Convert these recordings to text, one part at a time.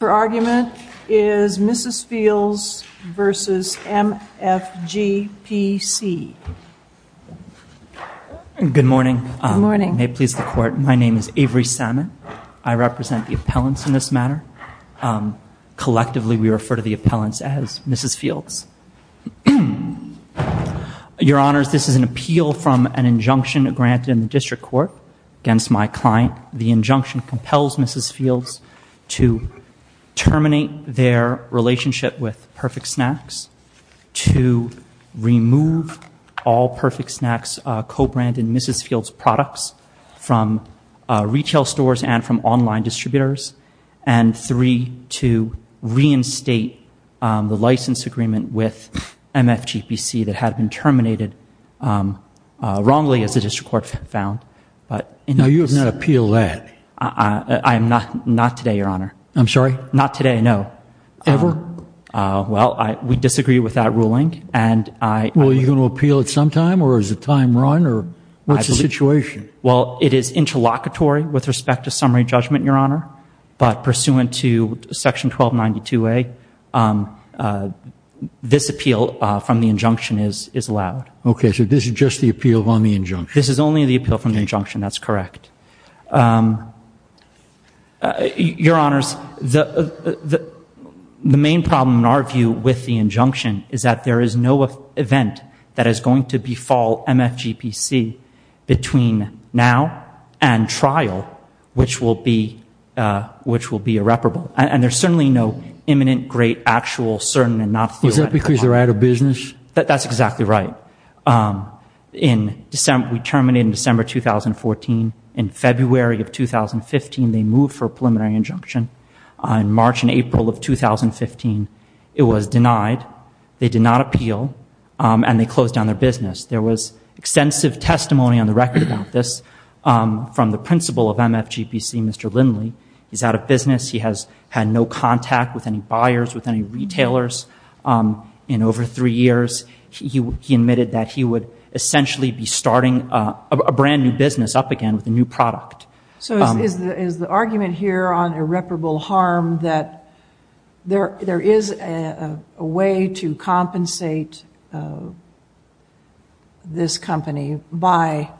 Her argument is Mrs. Fields v. MFGPC Good morning. May it please the court, my name is Avery Salmon. I represent the appellants in this matter. Collectively, we refer to the appellants as Mrs. Fields. Your honors, this is an appeal from an injunction granted in the district court against my client. The injunction compels Mrs. Fields to terminate their relationship with Perfect Snacks, to remove all Perfect Snacks co-branded Mrs. Fields products from retail stores and from online distributors, and three, to reinstate the license agreement with MFGPC that had been terminated wrongly as the district court found. Now, you have not appealed that. I am not today, your honor. I'm sorry? Not today, no. Ever? Well, we disagree with that ruling. Well, are you going to appeal it sometime, or is it time run, or what's the situation? Well, it is interlocutory with respect to summary judgment, your honor. But pursuant to section 1292A, this appeal from the injunction is allowed. Okay, so this is just the appeal on the injunction. This is only the appeal from the injunction, that's correct. Your honors, the main problem in our view with the injunction is that there is no event that is going to befall MFGPC between now and trial, which will be irreparable. And there's certainly no imminent, great, actual, certain, and not theoretical. Is that because they're out of business? That's exactly right. We terminated in December 2014. In February of 2015, they moved for a preliminary injunction. In March and April of 2015, it was denied. They did not appeal, and they closed down their business. There was extensive testimony on the record about this from the principal of MFGPC, Mr. Lindley. He's out of business. He has had no contact with any buyers, with any retailers in over three years. He admitted that he would essentially be starting a brand new business up again with a new product. So is the argument here on irreparable harm that there is a way to compensate this company by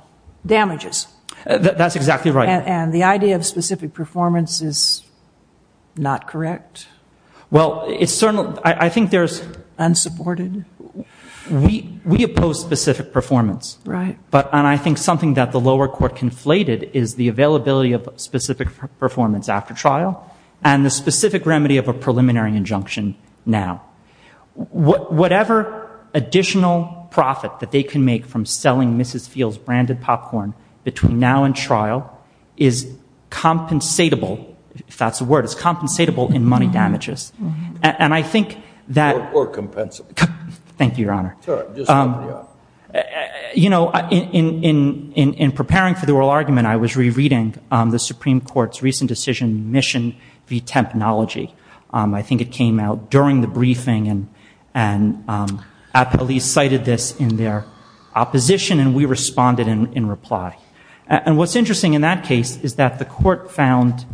damages? That's exactly right. And the idea of specific performance is not correct? Well, it's certainly, I think there's... Unsupported? We oppose specific performance. Right. But, and I think something that the lower court conflated is the availability of specific performance after trial and the specific remedy of a preliminary injunction now. Whatever additional profit that they can make from selling Mrs. Fields' branded popcorn between now and trial is compensatable, if that's a word, is compensatable in money damages. And I think that... Or compensable. Thank you, Your Honor. Sure, just let me know. You know, in preparing for the oral argument, I was rereading the Supreme Court's recent decision, Mission v. Tempanology. I think it came out during the briefing, and at least cited this in their opposition, and we responded in reply. And what's interesting in that case is that the court found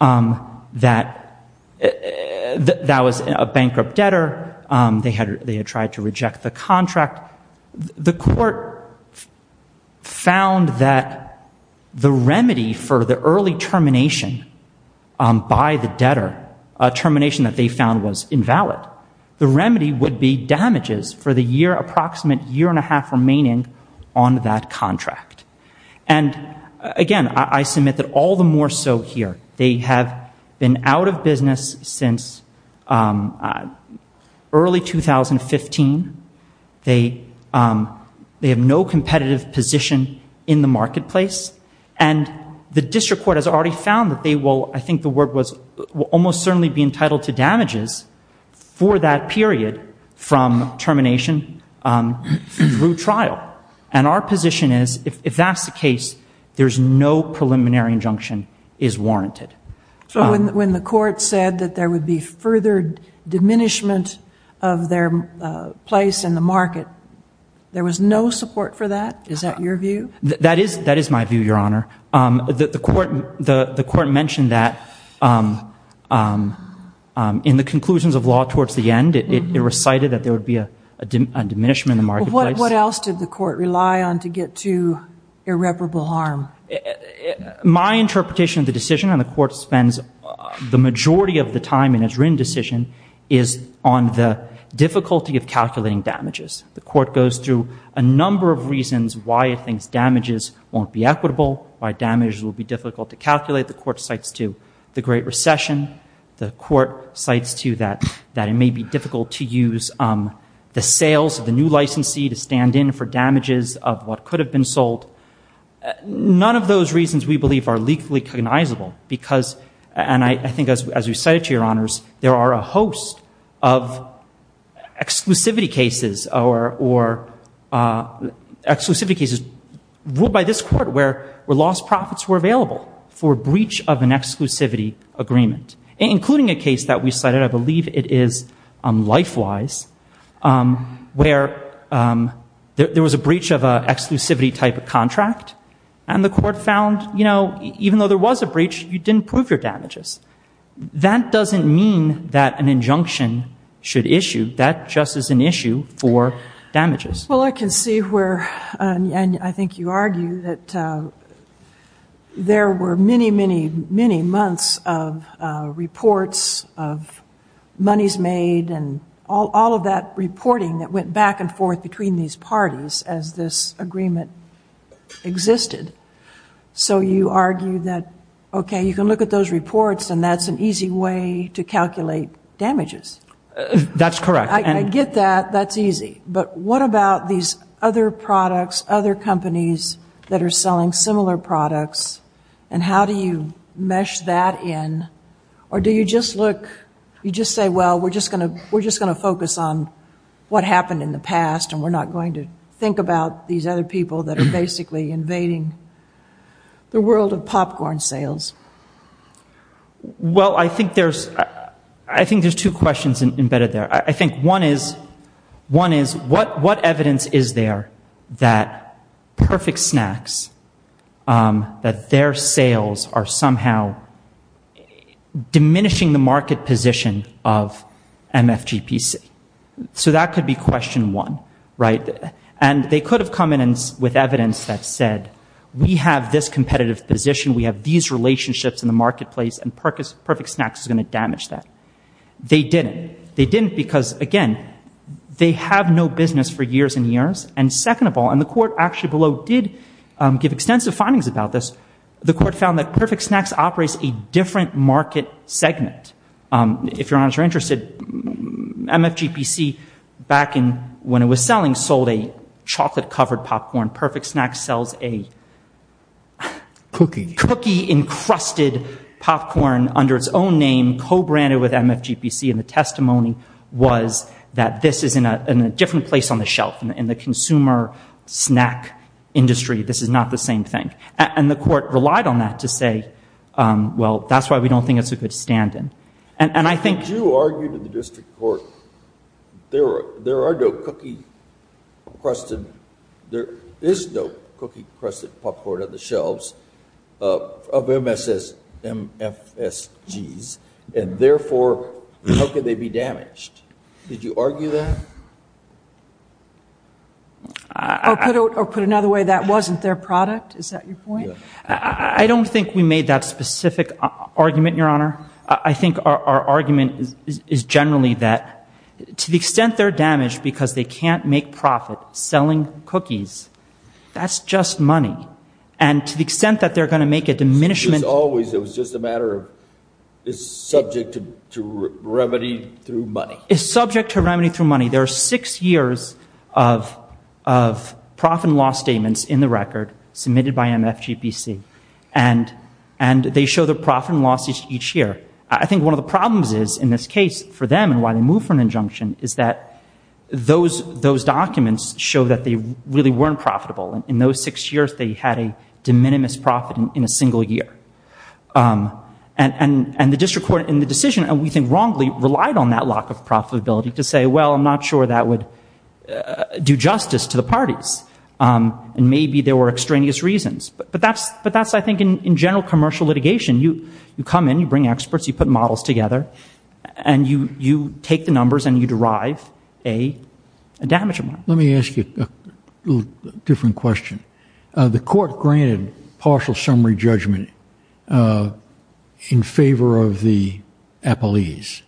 that that was a bankrupt debtor. They had tried to reject the contract. The court found that the remedy for the early termination by the debtor, a termination that they found was invalid, the remedy would be damages for the year, approximate year and a half remaining on that contract. And again, I submit that all the more so here. They have been out of business since early 2015. They have no competitive position in the marketplace. And the district court has already found that they will, I think the word was, will almost certainly be entitled to damages for that period from termination through trial. And our position is, if that's the case, there's no preliminary injunction is warranted. So when the court said that there would be furthered diminishment of their place in the market, there was no support for that? Is that your view? That is my view, Your Honor. The court mentioned that in the conclusions of law towards the end, it recited that there would be a diminishment in the marketplace. What else did the court rely on to get to irreparable harm? My interpretation of the decision, and the court spends the majority of the time in its written decision, is on the difficulty of calculating damages. The court goes through a number of reasons why it thinks damages won't be equitable, why damages will be difficult to calculate. The court cites to the Great Recession. The court cites to that it may be difficult to use the sales of the new licensee to stand in for damages of what could have been sold. None of those reasons, we believe, are legally cognizable. And I think as we cited to Your Honors, there are a host of exclusivity cases ruled by this court where lost profits were available for breach of an exclusivity agreement. Including a case that we cited, I believe it is LifeWise, where there was a breach of an exclusivity type of contract. And the court found, you know, even though there was a breach, you didn't prove your damages. That doesn't mean that an injunction should issue. That just is an issue for damages. Well, I can see where, and I think you argue that there were many, many, many months of reports, of monies made, and all of that reporting that went back and forth between these parties as this agreement existed. So you argue that, okay, you can look at those reports, and that's an easy way to calculate damages. That's correct. I get that. That's easy. But what about these other products, other companies that are selling similar products, and how do you mesh that in? Or do you just look, you just say, well, we're just going to focus on what happened in the past, and we're not going to think about these other people that are basically invading the world of popcorn sales? Well, I think there's two questions embedded there. I think one is, what evidence is there that Perfect Snacks, that their sales are somehow diminishing the market position of MFGPC? So that could be question one, right? And they could have come in with evidence that said, we have this competitive position, we have these relationships in the marketplace, and Perfect Snacks is going to damage that. They didn't. They didn't because, again, they have no business for years and years. And second of all, and the court actually below did give extensive findings about this, the court found that Perfect Snacks operates a different market segment. If your honors are interested, MFGPC, back when it was selling, sold a chocolate-covered popcorn. Perfect Snacks sells a cookie-encrusted popcorn under its own name, and being co-branded with MFGPC in the testimony was that this is in a different place on the shelf. In the consumer snack industry, this is not the same thing. And the court relied on that to say, well, that's why we don't think it's a good stand-in. You argued in the district court, there are no cookie-encrusted, there is no cookie-encrusted popcorn on the shelves of MFSGs, and therefore, how can they be damaged? Did you argue that? Or put it another way, that wasn't their product? Is that your point? I don't think we made that specific argument, Your Honor. I think our argument is generally that to the extent they're damaged because they can't make profit selling cookies, that's just money. And to the extent that they're going to make a diminishment. It was always, it was just a matter of, it's subject to remedy through money. It's subject to remedy through money. There are six years of profit and loss statements in the record submitted by MFGPC, and they show the profit and loss each year. I think one of the problems is, in this case, for them and why they moved for an injunction, is that those documents show that they really weren't profitable. In those six years, they had a de minimis profit in a single year. And the district court in the decision, and we think wrongly, relied on that lack of profitability to say, well, I'm not sure that would do justice to the parties. And maybe there were extraneous reasons. But that's, I think, in general commercial litigation. You come in, you bring experts, you put models together, and you take the numbers and you derive a damage amount. Let me ask you a different question. The court granted partial summary judgment in favor of the appellees.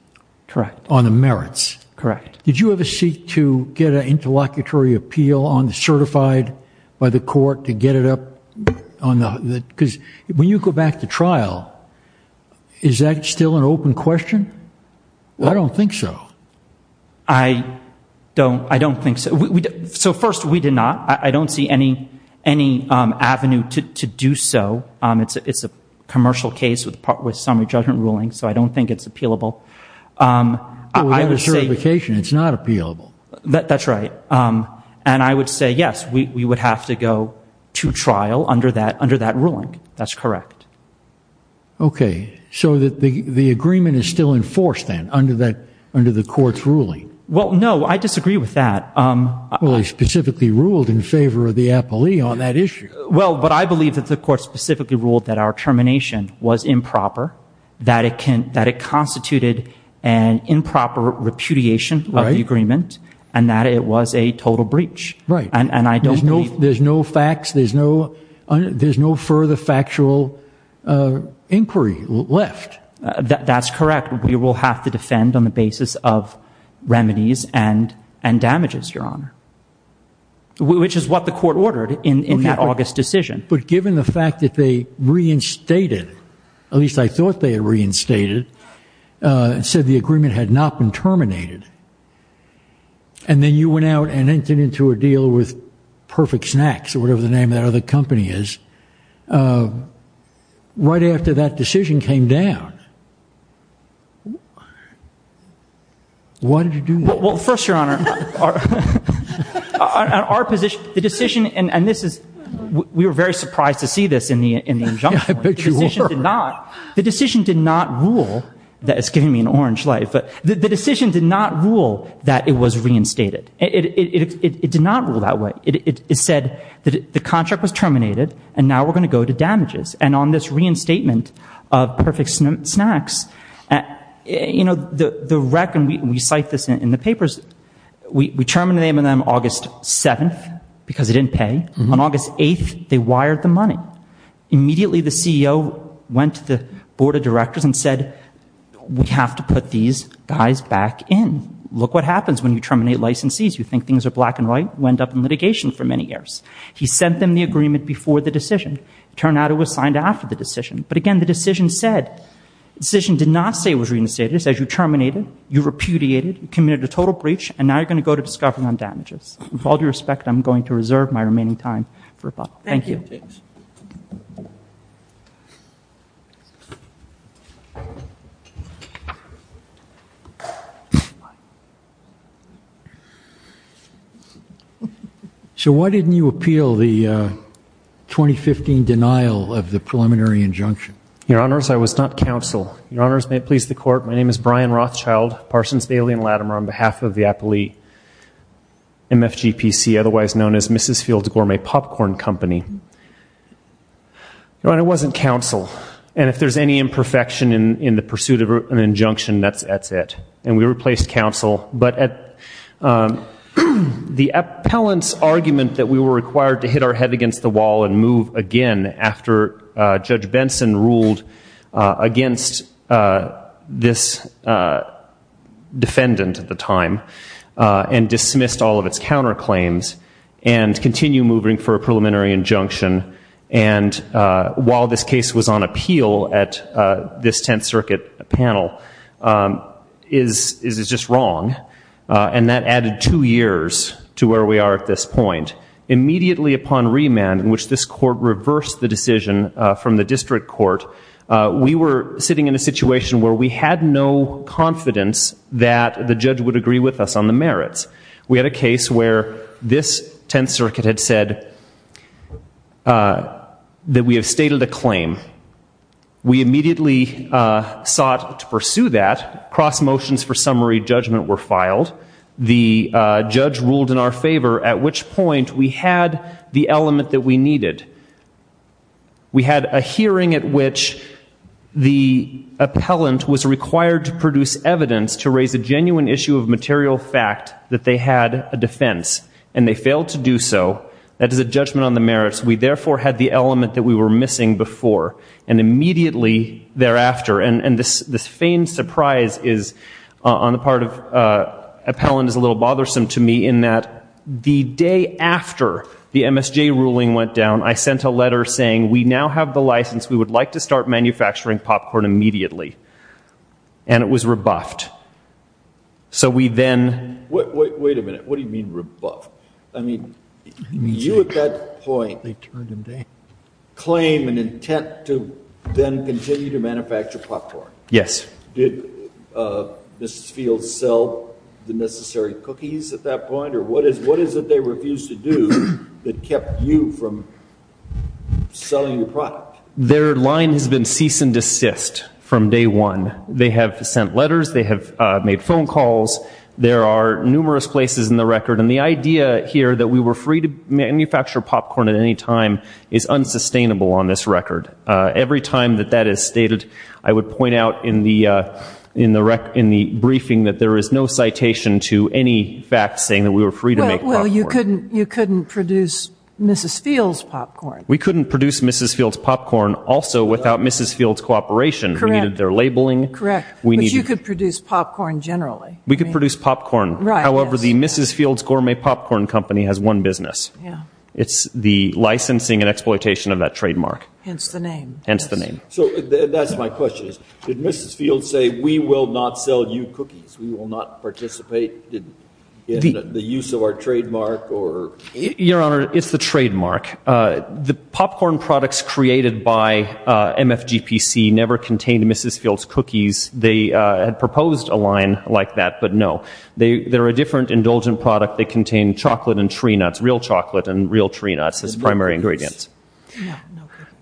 Correct. On the merits. Correct. Did you ever seek to get an interlocutory appeal on the certified by the court to get it up? Because when you go back to trial, is that still an open question? I don't think so. I don't think so. So, first, we did not. I don't see any avenue to do so. It's a commercial case with summary judgment ruling, so I don't think it's appealable. Without a certification, it's not appealable. That's right. And I would say, yes, we would have to go to trial under that ruling. That's correct. Okay. So the agreement is still enforced then under the court's ruling? Well, no, I disagree with that. Well, they specifically ruled in favor of the appellee on that issue. Well, but I believe that the court specifically ruled that our termination was improper, that it constituted an improper repudiation of the agreement, and that it was a total breach. Right. There's no facts. There's no further factual inquiry left. That's correct. We will have to defend on the basis of remedies and damages, Your Honor, which is what the court ordered in that August decision. But given the fact that they reinstated, at least I thought they had reinstated, said the agreement had not been terminated, and then you went out and entered into a deal with Perfect Snacks or whatever the name of that other company is, right after that decision came down, why did you do that? Well, first, Your Honor, our position, the decision, and this is, we were very surprised to see this in the injunction. I bet you were. The decision did not rule that it's giving me an orange light. The decision did not rule that it was reinstated. It did not rule that way. It said that the contract was terminated, and now we're going to go to damages. And on this reinstatement of Perfect Snacks, you know, the rec, and we cite this in the papers, we terminated them on August 7th because they didn't pay. On August 8th, they wired the money. Immediately the CEO went to the board of directors and said, we have to put these guys back in. Look what happens when you terminate licensees. You think things are black and white. You end up in litigation for many years. He sent them the agreement before the decision. It turned out it was signed after the decision. But, again, the decision said, the decision did not say it was reinstated. It said you terminated, you repudiated, you committed a total breach, and now you're going to go to discovery on damages. With all due respect, I'm going to reserve my remaining time for rebuttal. Thank you. Thank you. So why didn't you appeal the 2015 denial of the preliminary injunction? Your Honors, I was not counsel. Your Honors, may it please the Court, my name is Brian Rothschild, Parsons, Bailey, and Latimer on behalf of the appellee, MFGPC, otherwise known as Mrs. Field's Gourmet Popcorn Company. Your Honor, I wasn't counsel. And if there's any imperfection in the pursuit of an injunction, that's it. And we replaced counsel. But the appellant's argument that we were required to hit our head against the wall and move again after Judge Benson ruled against this defendant at the time and dismissed all of its counterclaims and continue moving for a preliminary injunction while this case was on appeal at this Tenth Circuit panel is just wrong. And that added two years to where we are at this point. Immediately upon remand, in which this Court reversed the decision from the District Court, we were sitting in a situation where we had no confidence that the judge would agree with us on the merits. We had a case where this Tenth Circuit had said that we have stated a claim. We immediately sought to pursue that. Cross motions for summary judgment were filed. The judge ruled in our favor, at which point we had the element that we needed. We had a hearing at which the appellant was required to produce evidence to raise a genuine issue of material fact that they had a defense, and they failed to do so. That is a judgment on the merits. We therefore had the element that we were missing before, and immediately thereafter. And this feigned surprise on the part of appellant is a little bothersome to me in that the day after the MSJ ruling went down, I sent a letter saying, we now have the license. We would like to start manufacturing popcorn immediately. And it was rebuffed. So we then... Wait a minute. What do you mean rebuffed? I mean, you at that point claimed an intent to then continue to manufacture popcorn. Yes. Did Mrs. Fields sell the necessary cookies at that point? Or what is it they refused to do that kept you from selling your product? Their line has been cease and desist from day one. They have sent letters. They have made phone calls. There are numerous places in the record. And the idea here that we were free to manufacture popcorn at any time is unsustainable on this record. Every time that that is stated, I would point out in the briefing that there is no citation to any fact saying that we were free to make popcorn. Well, you couldn't produce Mrs. Fields' popcorn. We couldn't produce Mrs. Fields' popcorn also without Mrs. Fields' cooperation. We needed their labeling. Correct. But you could produce popcorn generally. We could produce popcorn. However, the Mrs. Fields Gourmet Popcorn Company has one business. It's the licensing and exploitation of that trademark. Hence the name. Hence the name. So that's my question. Did Mrs. Fields say, we will not sell you cookies? We will not participate in the use of our trademark? Your Honor, it's the trademark. The popcorn products created by MFGPC never contained Mrs. Fields' cookies. They had proposed a line like that, but no. They're a different indulgent product. They contain chocolate and tree nuts, real chocolate and real tree nuts as primary ingredients.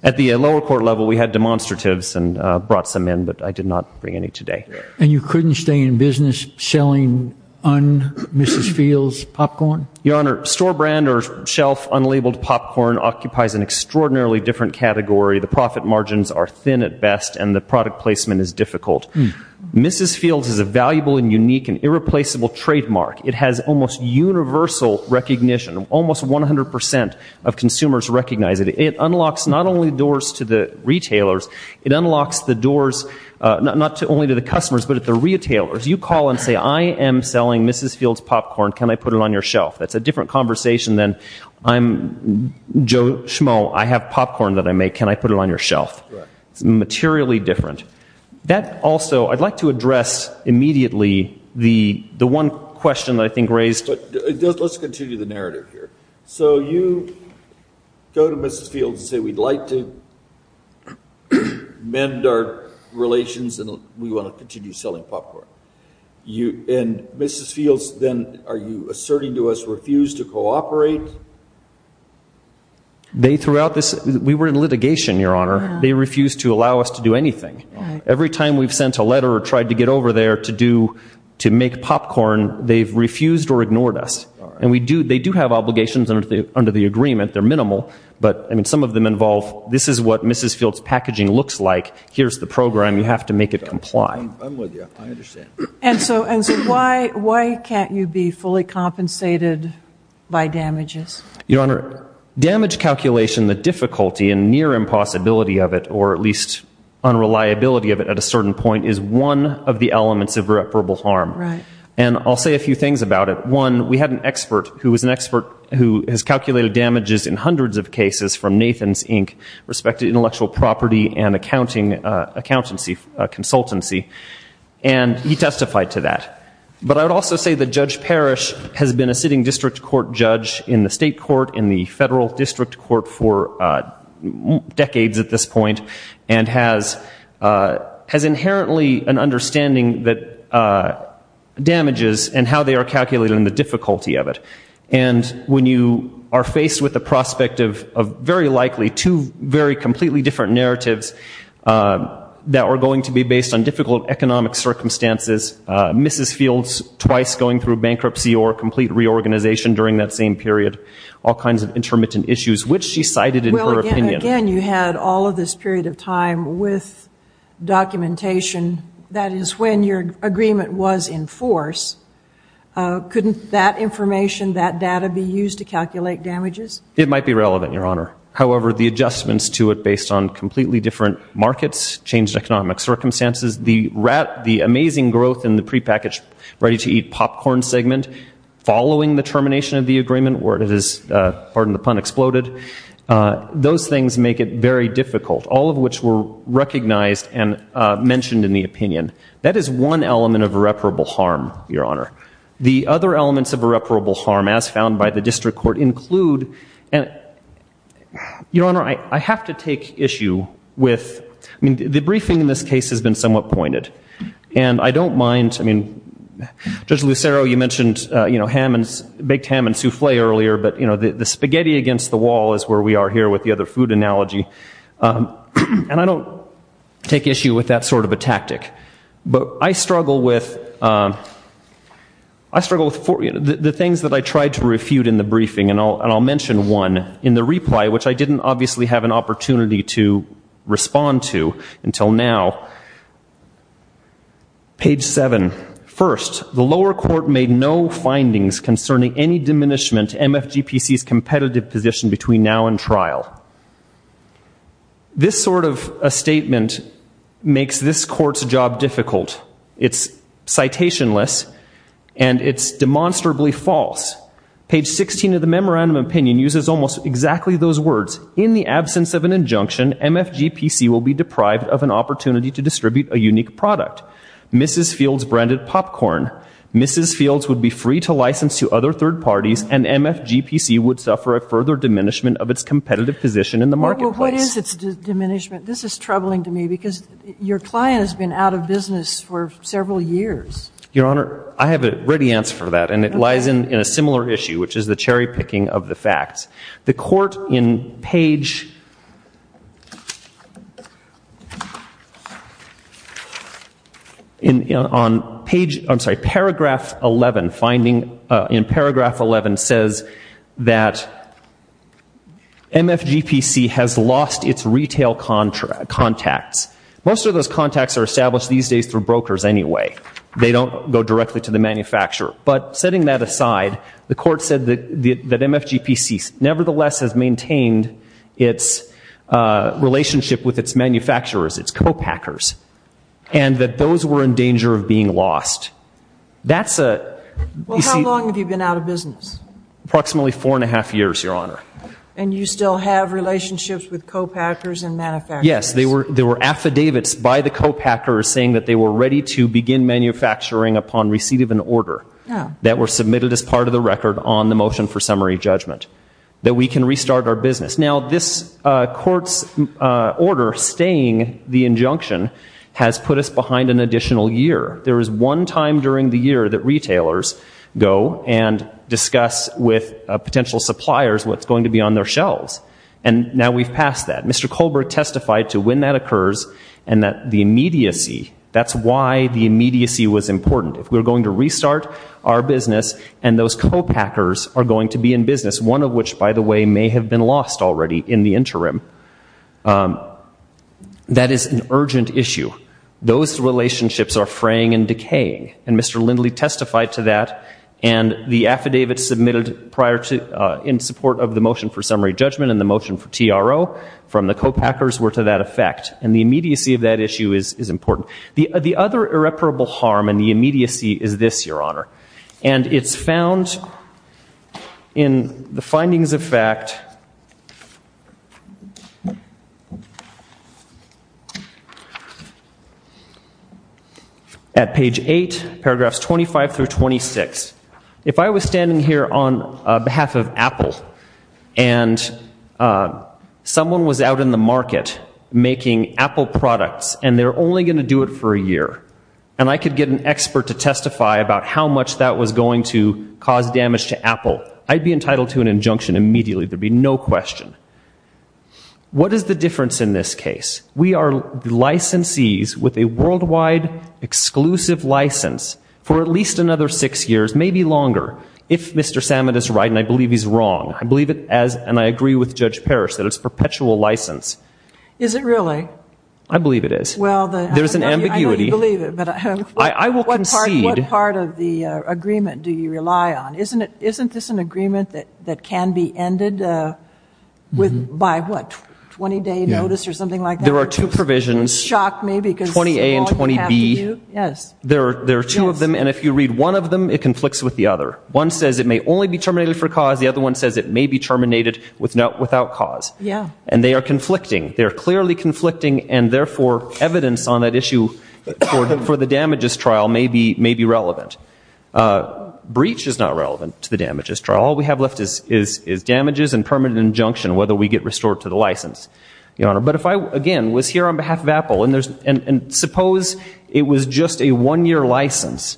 At the lower court level, we had demonstratives and brought some in, but I did not bring any today. And you couldn't stay in business selling Mrs. Fields' popcorn? Your Honor, store brand or shelf unlabeled popcorn occupies an extraordinarily different category. The profit margins are thin at best, and the product placement is difficult. Mrs. Fields is a valuable and unique and irreplaceable trademark. It has almost universal recognition. Almost 100% of consumers recognize it. It unlocks not only doors to the retailers, it unlocks the doors not only to the customers, but to the retailers. You call and say, I am selling Mrs. Fields' popcorn. Can I put it on your shelf? That's a different conversation than I'm Joe Schmo, I have popcorn that I make. Can I put it on your shelf? It's materially different. That also, I'd like to address immediately the one question that I think raised. Let's continue the narrative here. So you go to Mrs. Fields and say, we'd like to mend our relations and we want to continue selling popcorn. And Mrs. Fields then, are you asserting to us, refused to cooperate? We were in litigation, Your Honor. They refused to allow us to do anything. Every time we've sent a letter or tried to get over there to make popcorn, they've refused or ignored us. And they do have obligations under the agreement. They're minimal. But some of them involve, this is what Mrs. Fields' packaging looks like. Here's the program. You have to make it comply. I'm with you. I understand. And so why can't you be fully compensated by damages? Your Honor, damage calculation, the difficulty and near impossibility of it, or at least unreliability of it at a certain point, is one of the elements of irreparable harm. Right. And I'll say a few things about it. One, we had an expert who was an expert who has calculated damages in hundreds of cases from Nathan's, Inc., respected intellectual property and accountancy consultancy. And he testified to that. But I would also say that Judge Parrish has been a sitting district court judge in the state court, in the federal district court for decades at this point, and has inherently an understanding that damages and how they are calculated and the difficulty of it. And when you are faced with the prospect of very likely two very completely different narratives that are going to be based on difficult economic circumstances, Mrs. Fields twice going through bankruptcy or complete reorganization during that same period, all kinds of intermittent issues, which she cited in her opinion. Well, again, you had all of this period of time with documentation. That is when your agreement was in force. Couldn't that information, that data, be used to calculate damages? It might be relevant, Your Honor. However, the adjustments to it based on completely different markets, changed economic circumstances, the amazing growth in the prepackaged ready-to-eat popcorn segment following the termination of the agreement, where it has, pardon the pun, exploded, those things make it very difficult, all of which were recognized and mentioned in the opinion. That is one element of irreparable harm, Your Honor. The other elements of irreparable harm, as found by the district court, include, Your Honor, I have to take issue with, I mean, the briefing in this case has been somewhat pointed. And I don't mind, I mean, Judge Lucero, you mentioned baked ham and souffle earlier, but the spaghetti against the wall is where we are here with the other food analogy. And I don't take issue with that sort of a tactic. But I struggle with the things that I tried to refute in the briefing. And I'll mention one in the reply, which I didn't obviously have an opportunity to respond to until now. Page 7. First, the lower court made no findings concerning any diminishment to MFGPC's competitive position between now and trial. This sort of a statement makes this court's job difficult. It's citationless, and it's demonstrably false. Page 16 of the memorandum of opinion uses almost exactly those words. In the absence of an injunction, MFGPC will be deprived of an opportunity to distribute a unique product, Mrs. Fields branded popcorn, Mrs. Fields would be free to license to other third parties, and MFGPC would suffer a further diminishment of its competitive position in the marketplace. Well, what is its diminishment? This is troubling to me because your client has been out of business for several years. Your Honor, I have a ready answer for that, and it lies in a similar issue, which is the cherry picking of the facts. The court in page 11 says that MFGPC has lost its retail contacts. Most of those contacts are established these days through brokers anyway. They don't go directly to the manufacturer. But setting that aside, the court said that MFGPC nevertheless has maintained its relationship with its manufacturers, its co-packers, and that those were in danger of being lost. That's a... Well, how long have you been out of business? Approximately four and a half years, Your Honor. And you still have relationships with co-packers and manufacturers? Yes, there were affidavits by the co-packers saying that they were ready to begin manufacturing upon receipt of an order that were submitted as part of the record on the motion for summary judgment, that we can restart our business. Now, this court's order staying the injunction has put us behind an additional year. There was one time during the year that retailers go and discuss with potential suppliers what's going to be on their shelves, and now we've passed that. Mr. Colbert testified to when that occurs and that the immediacy, that's why the immediacy was important. If we're going to restart our business and those co-packers are going to be in business, one of which, by the way, may have been lost already in the interim, that is an urgent issue. Those relationships are fraying and decaying, and Mr. Lindley testified to that, and the affidavits submitted in support of the motion for summary judgment and the motion for TRO from the co-packers were to that effect, and the immediacy of that issue is important. The other irreparable harm in the immediacy is this, Your Honor, and it's found in the findings of fact at page 8, paragraphs 25 through 26. If I was standing here on behalf of Apple and someone was out in the market making Apple products and they're only going to do it for a year, and I could get an expert to testify about how much that was going to cause damage to Apple, I'd be entitled to an injunction immediately. There'd be no question. What is the difference in this case? We are licensees with a worldwide exclusive license for at least another six years, maybe longer, if Mr. Salmon is right, and I believe he's wrong, and I agree with Judge Parrish that it's a perpetual license. Is it really? I believe it is. There's an ambiguity. I know you believe it, but what part of the agreement do you rely on? Isn't this an agreement that can be ended by, what, 20-day notice or something like that? There are two provisions, 20A and 20B. There are two of them, and if you read one of them, it conflicts with the other. One says it may only be terminated for cause. The other one says it may be terminated without cause, and they are conflicting. They are clearly conflicting, and, therefore, evidence on that issue for the damages trial may be relevant. Breach is not relevant to the damages trial. All we have left is damages and permanent injunction, whether we get restored to the license, Your Honor. But if I, again, was here on behalf of Apple, and suppose it was just a one-year license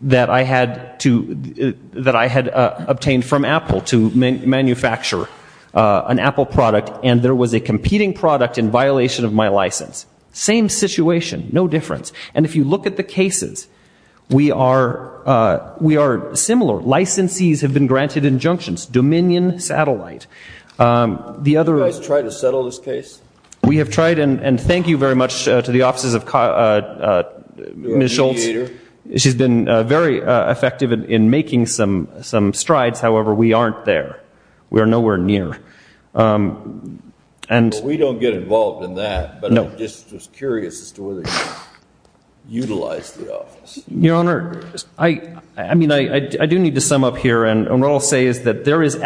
that I had obtained from Apple to manufacture an Apple product, and there was a competing product in violation of my license, same situation, no difference. And if you look at the cases, we are similar. Licensees have been granted injunctions, Dominion Satellite. Have you guys tried to settle this case? We have tried, and thank you very much to the offices of Ms. Schultz. She's been very effective in making some strides. However, we aren't there. We are nowhere near. We don't get involved in that, but I'm just curious as to whether you utilize the office. Your Honor, I do need to sum up here, and what I'll say is that there is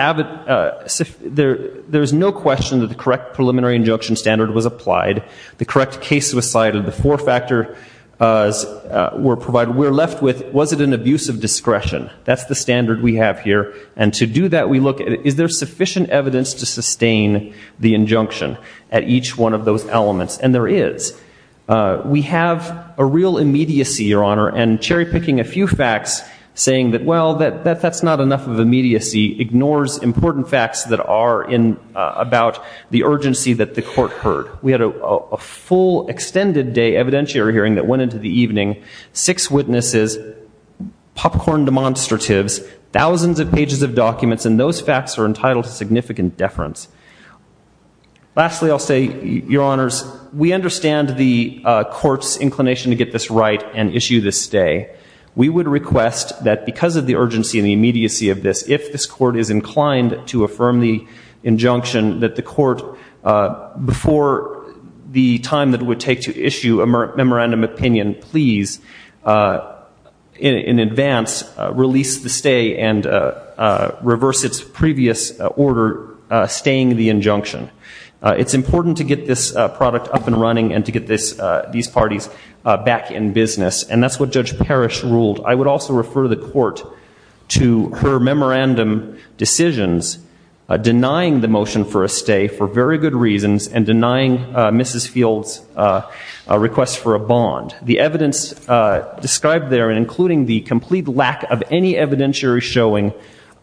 no question that the correct preliminary injunction standard was applied. The correct case was cited. The four factors were provided. We're left with, was it an abuse of discretion? That's the standard we have here, and to do that, we look at, is there sufficient evidence to sustain the injunction at each one of those elements? And there is. We have a real immediacy, Your Honor, and cherry-picking a few facts, saying that, well, that's not enough of an immediacy, ignores important facts that are about the urgency that the court heard. We had a full extended day evidentiary hearing that went into the evening. Six witnesses, popcorn demonstratives, thousands of pages of documents, and those facts are entitled to significant deference. Lastly, I'll say, Your Honors, we understand the court's inclination to get this right and issue this stay. We would request that because of the urgency and the immediacy of this, if this court is inclined to affirm the injunction, that the court, before the time that it would take to issue a memorandum opinion, please, in advance, release the stay and reverse its previous order, staying the injunction. It's important to get this product up and running and to get these parties back in business, and that's what Judge Parrish ruled. I would also refer the court to her memorandum decisions denying the motion for a stay for very good reasons and denying Mrs. Fields' request for a bond. The evidence described there, including the complete lack of any evidentiary showing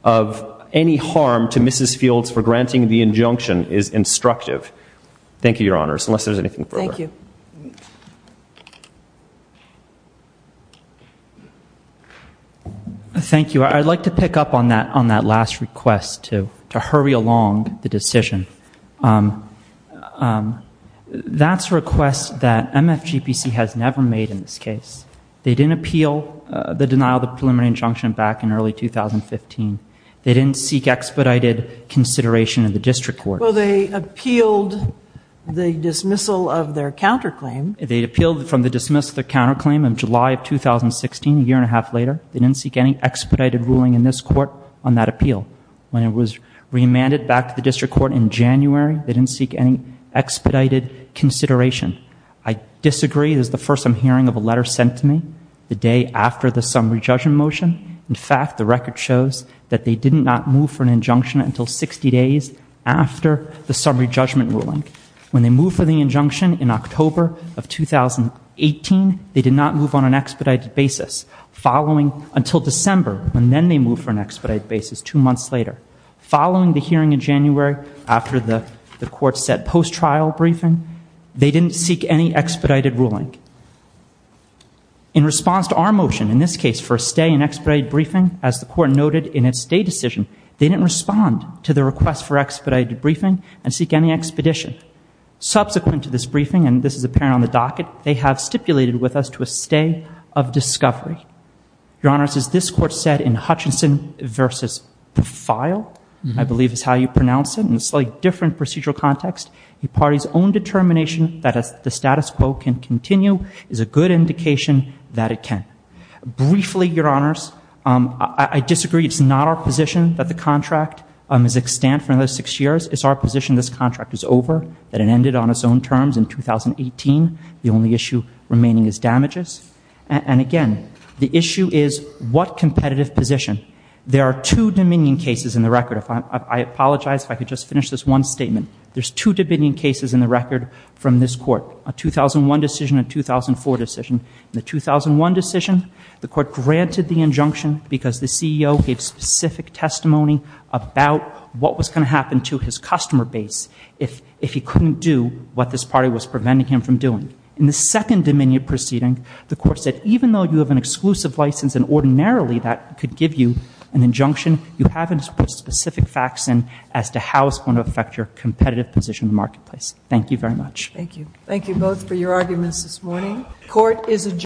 of any harm to Mrs. Fields for granting the injunction, is instructive. Thank you, Your Honors, unless there's anything further. Thank you. Thank you. I'd like to pick up on that last request to hurry along the decision. That's a request that MFGPC has never made in this case. They didn't appeal the denial of the preliminary injunction back in early 2015. They didn't seek expedited consideration of the district court. Well, they appealed the dismissal of their counterclaim. They appealed from the dismissal of their counterclaim in July of 2016, a year and a half later. They didn't seek any expedited ruling in this court on that appeal. When it was remanded back to the district court in January, they didn't seek any expedited consideration. I disagree. This is the first I'm hearing of a letter sent to me the day after the summary judgment motion. In fact, the record shows that they did not move for an injunction until 60 days after the summary judgment ruling. When they moved for the injunction in October of 2018, they did not move on an expedited basis, following until December, when then they moved for an expedited basis two months later. Following the hearing in January, after the court set post-trial briefing, they didn't seek any expedited ruling. In response to our motion, in this case, for a stay in expedited briefing, as the court noted in its stay decision, they didn't respond to the request for expedited briefing and seek any expedition. Subsequent to this briefing, and this is apparent on the docket, they have stipulated with us to a stay of discovery. Your Honors, as this court said in Hutchinson v. Profile, I believe is how you pronounce it in a slightly different procedural context, a party's own determination that the status quo can continue is a good indication that it can. Briefly, Your Honors, I disagree. It's not our position that the contract is extant for another six years. It's our position this contract is over, that it ended on its own terms in 2018. The only issue remaining is damages. And again, the issue is what competitive position. There are two Dominion cases in the record. I apologize if I could just finish this one statement. There's two Dominion cases in the record from this court, a 2001 decision and a 2004 decision. In the 2001 decision, the court granted the injunction because the CEO gave specific testimony about what was going to happen to his customer base if he couldn't do what this party was preventing him from doing. In the second Dominion proceeding, the court said even though you have an exclusive license and ordinarily that could give you an injunction, you haven't put specific facts in as to how it's going to affect your competitive position in the marketplace. Thank you very much. Thank you. Thank you both for your arguments this morning.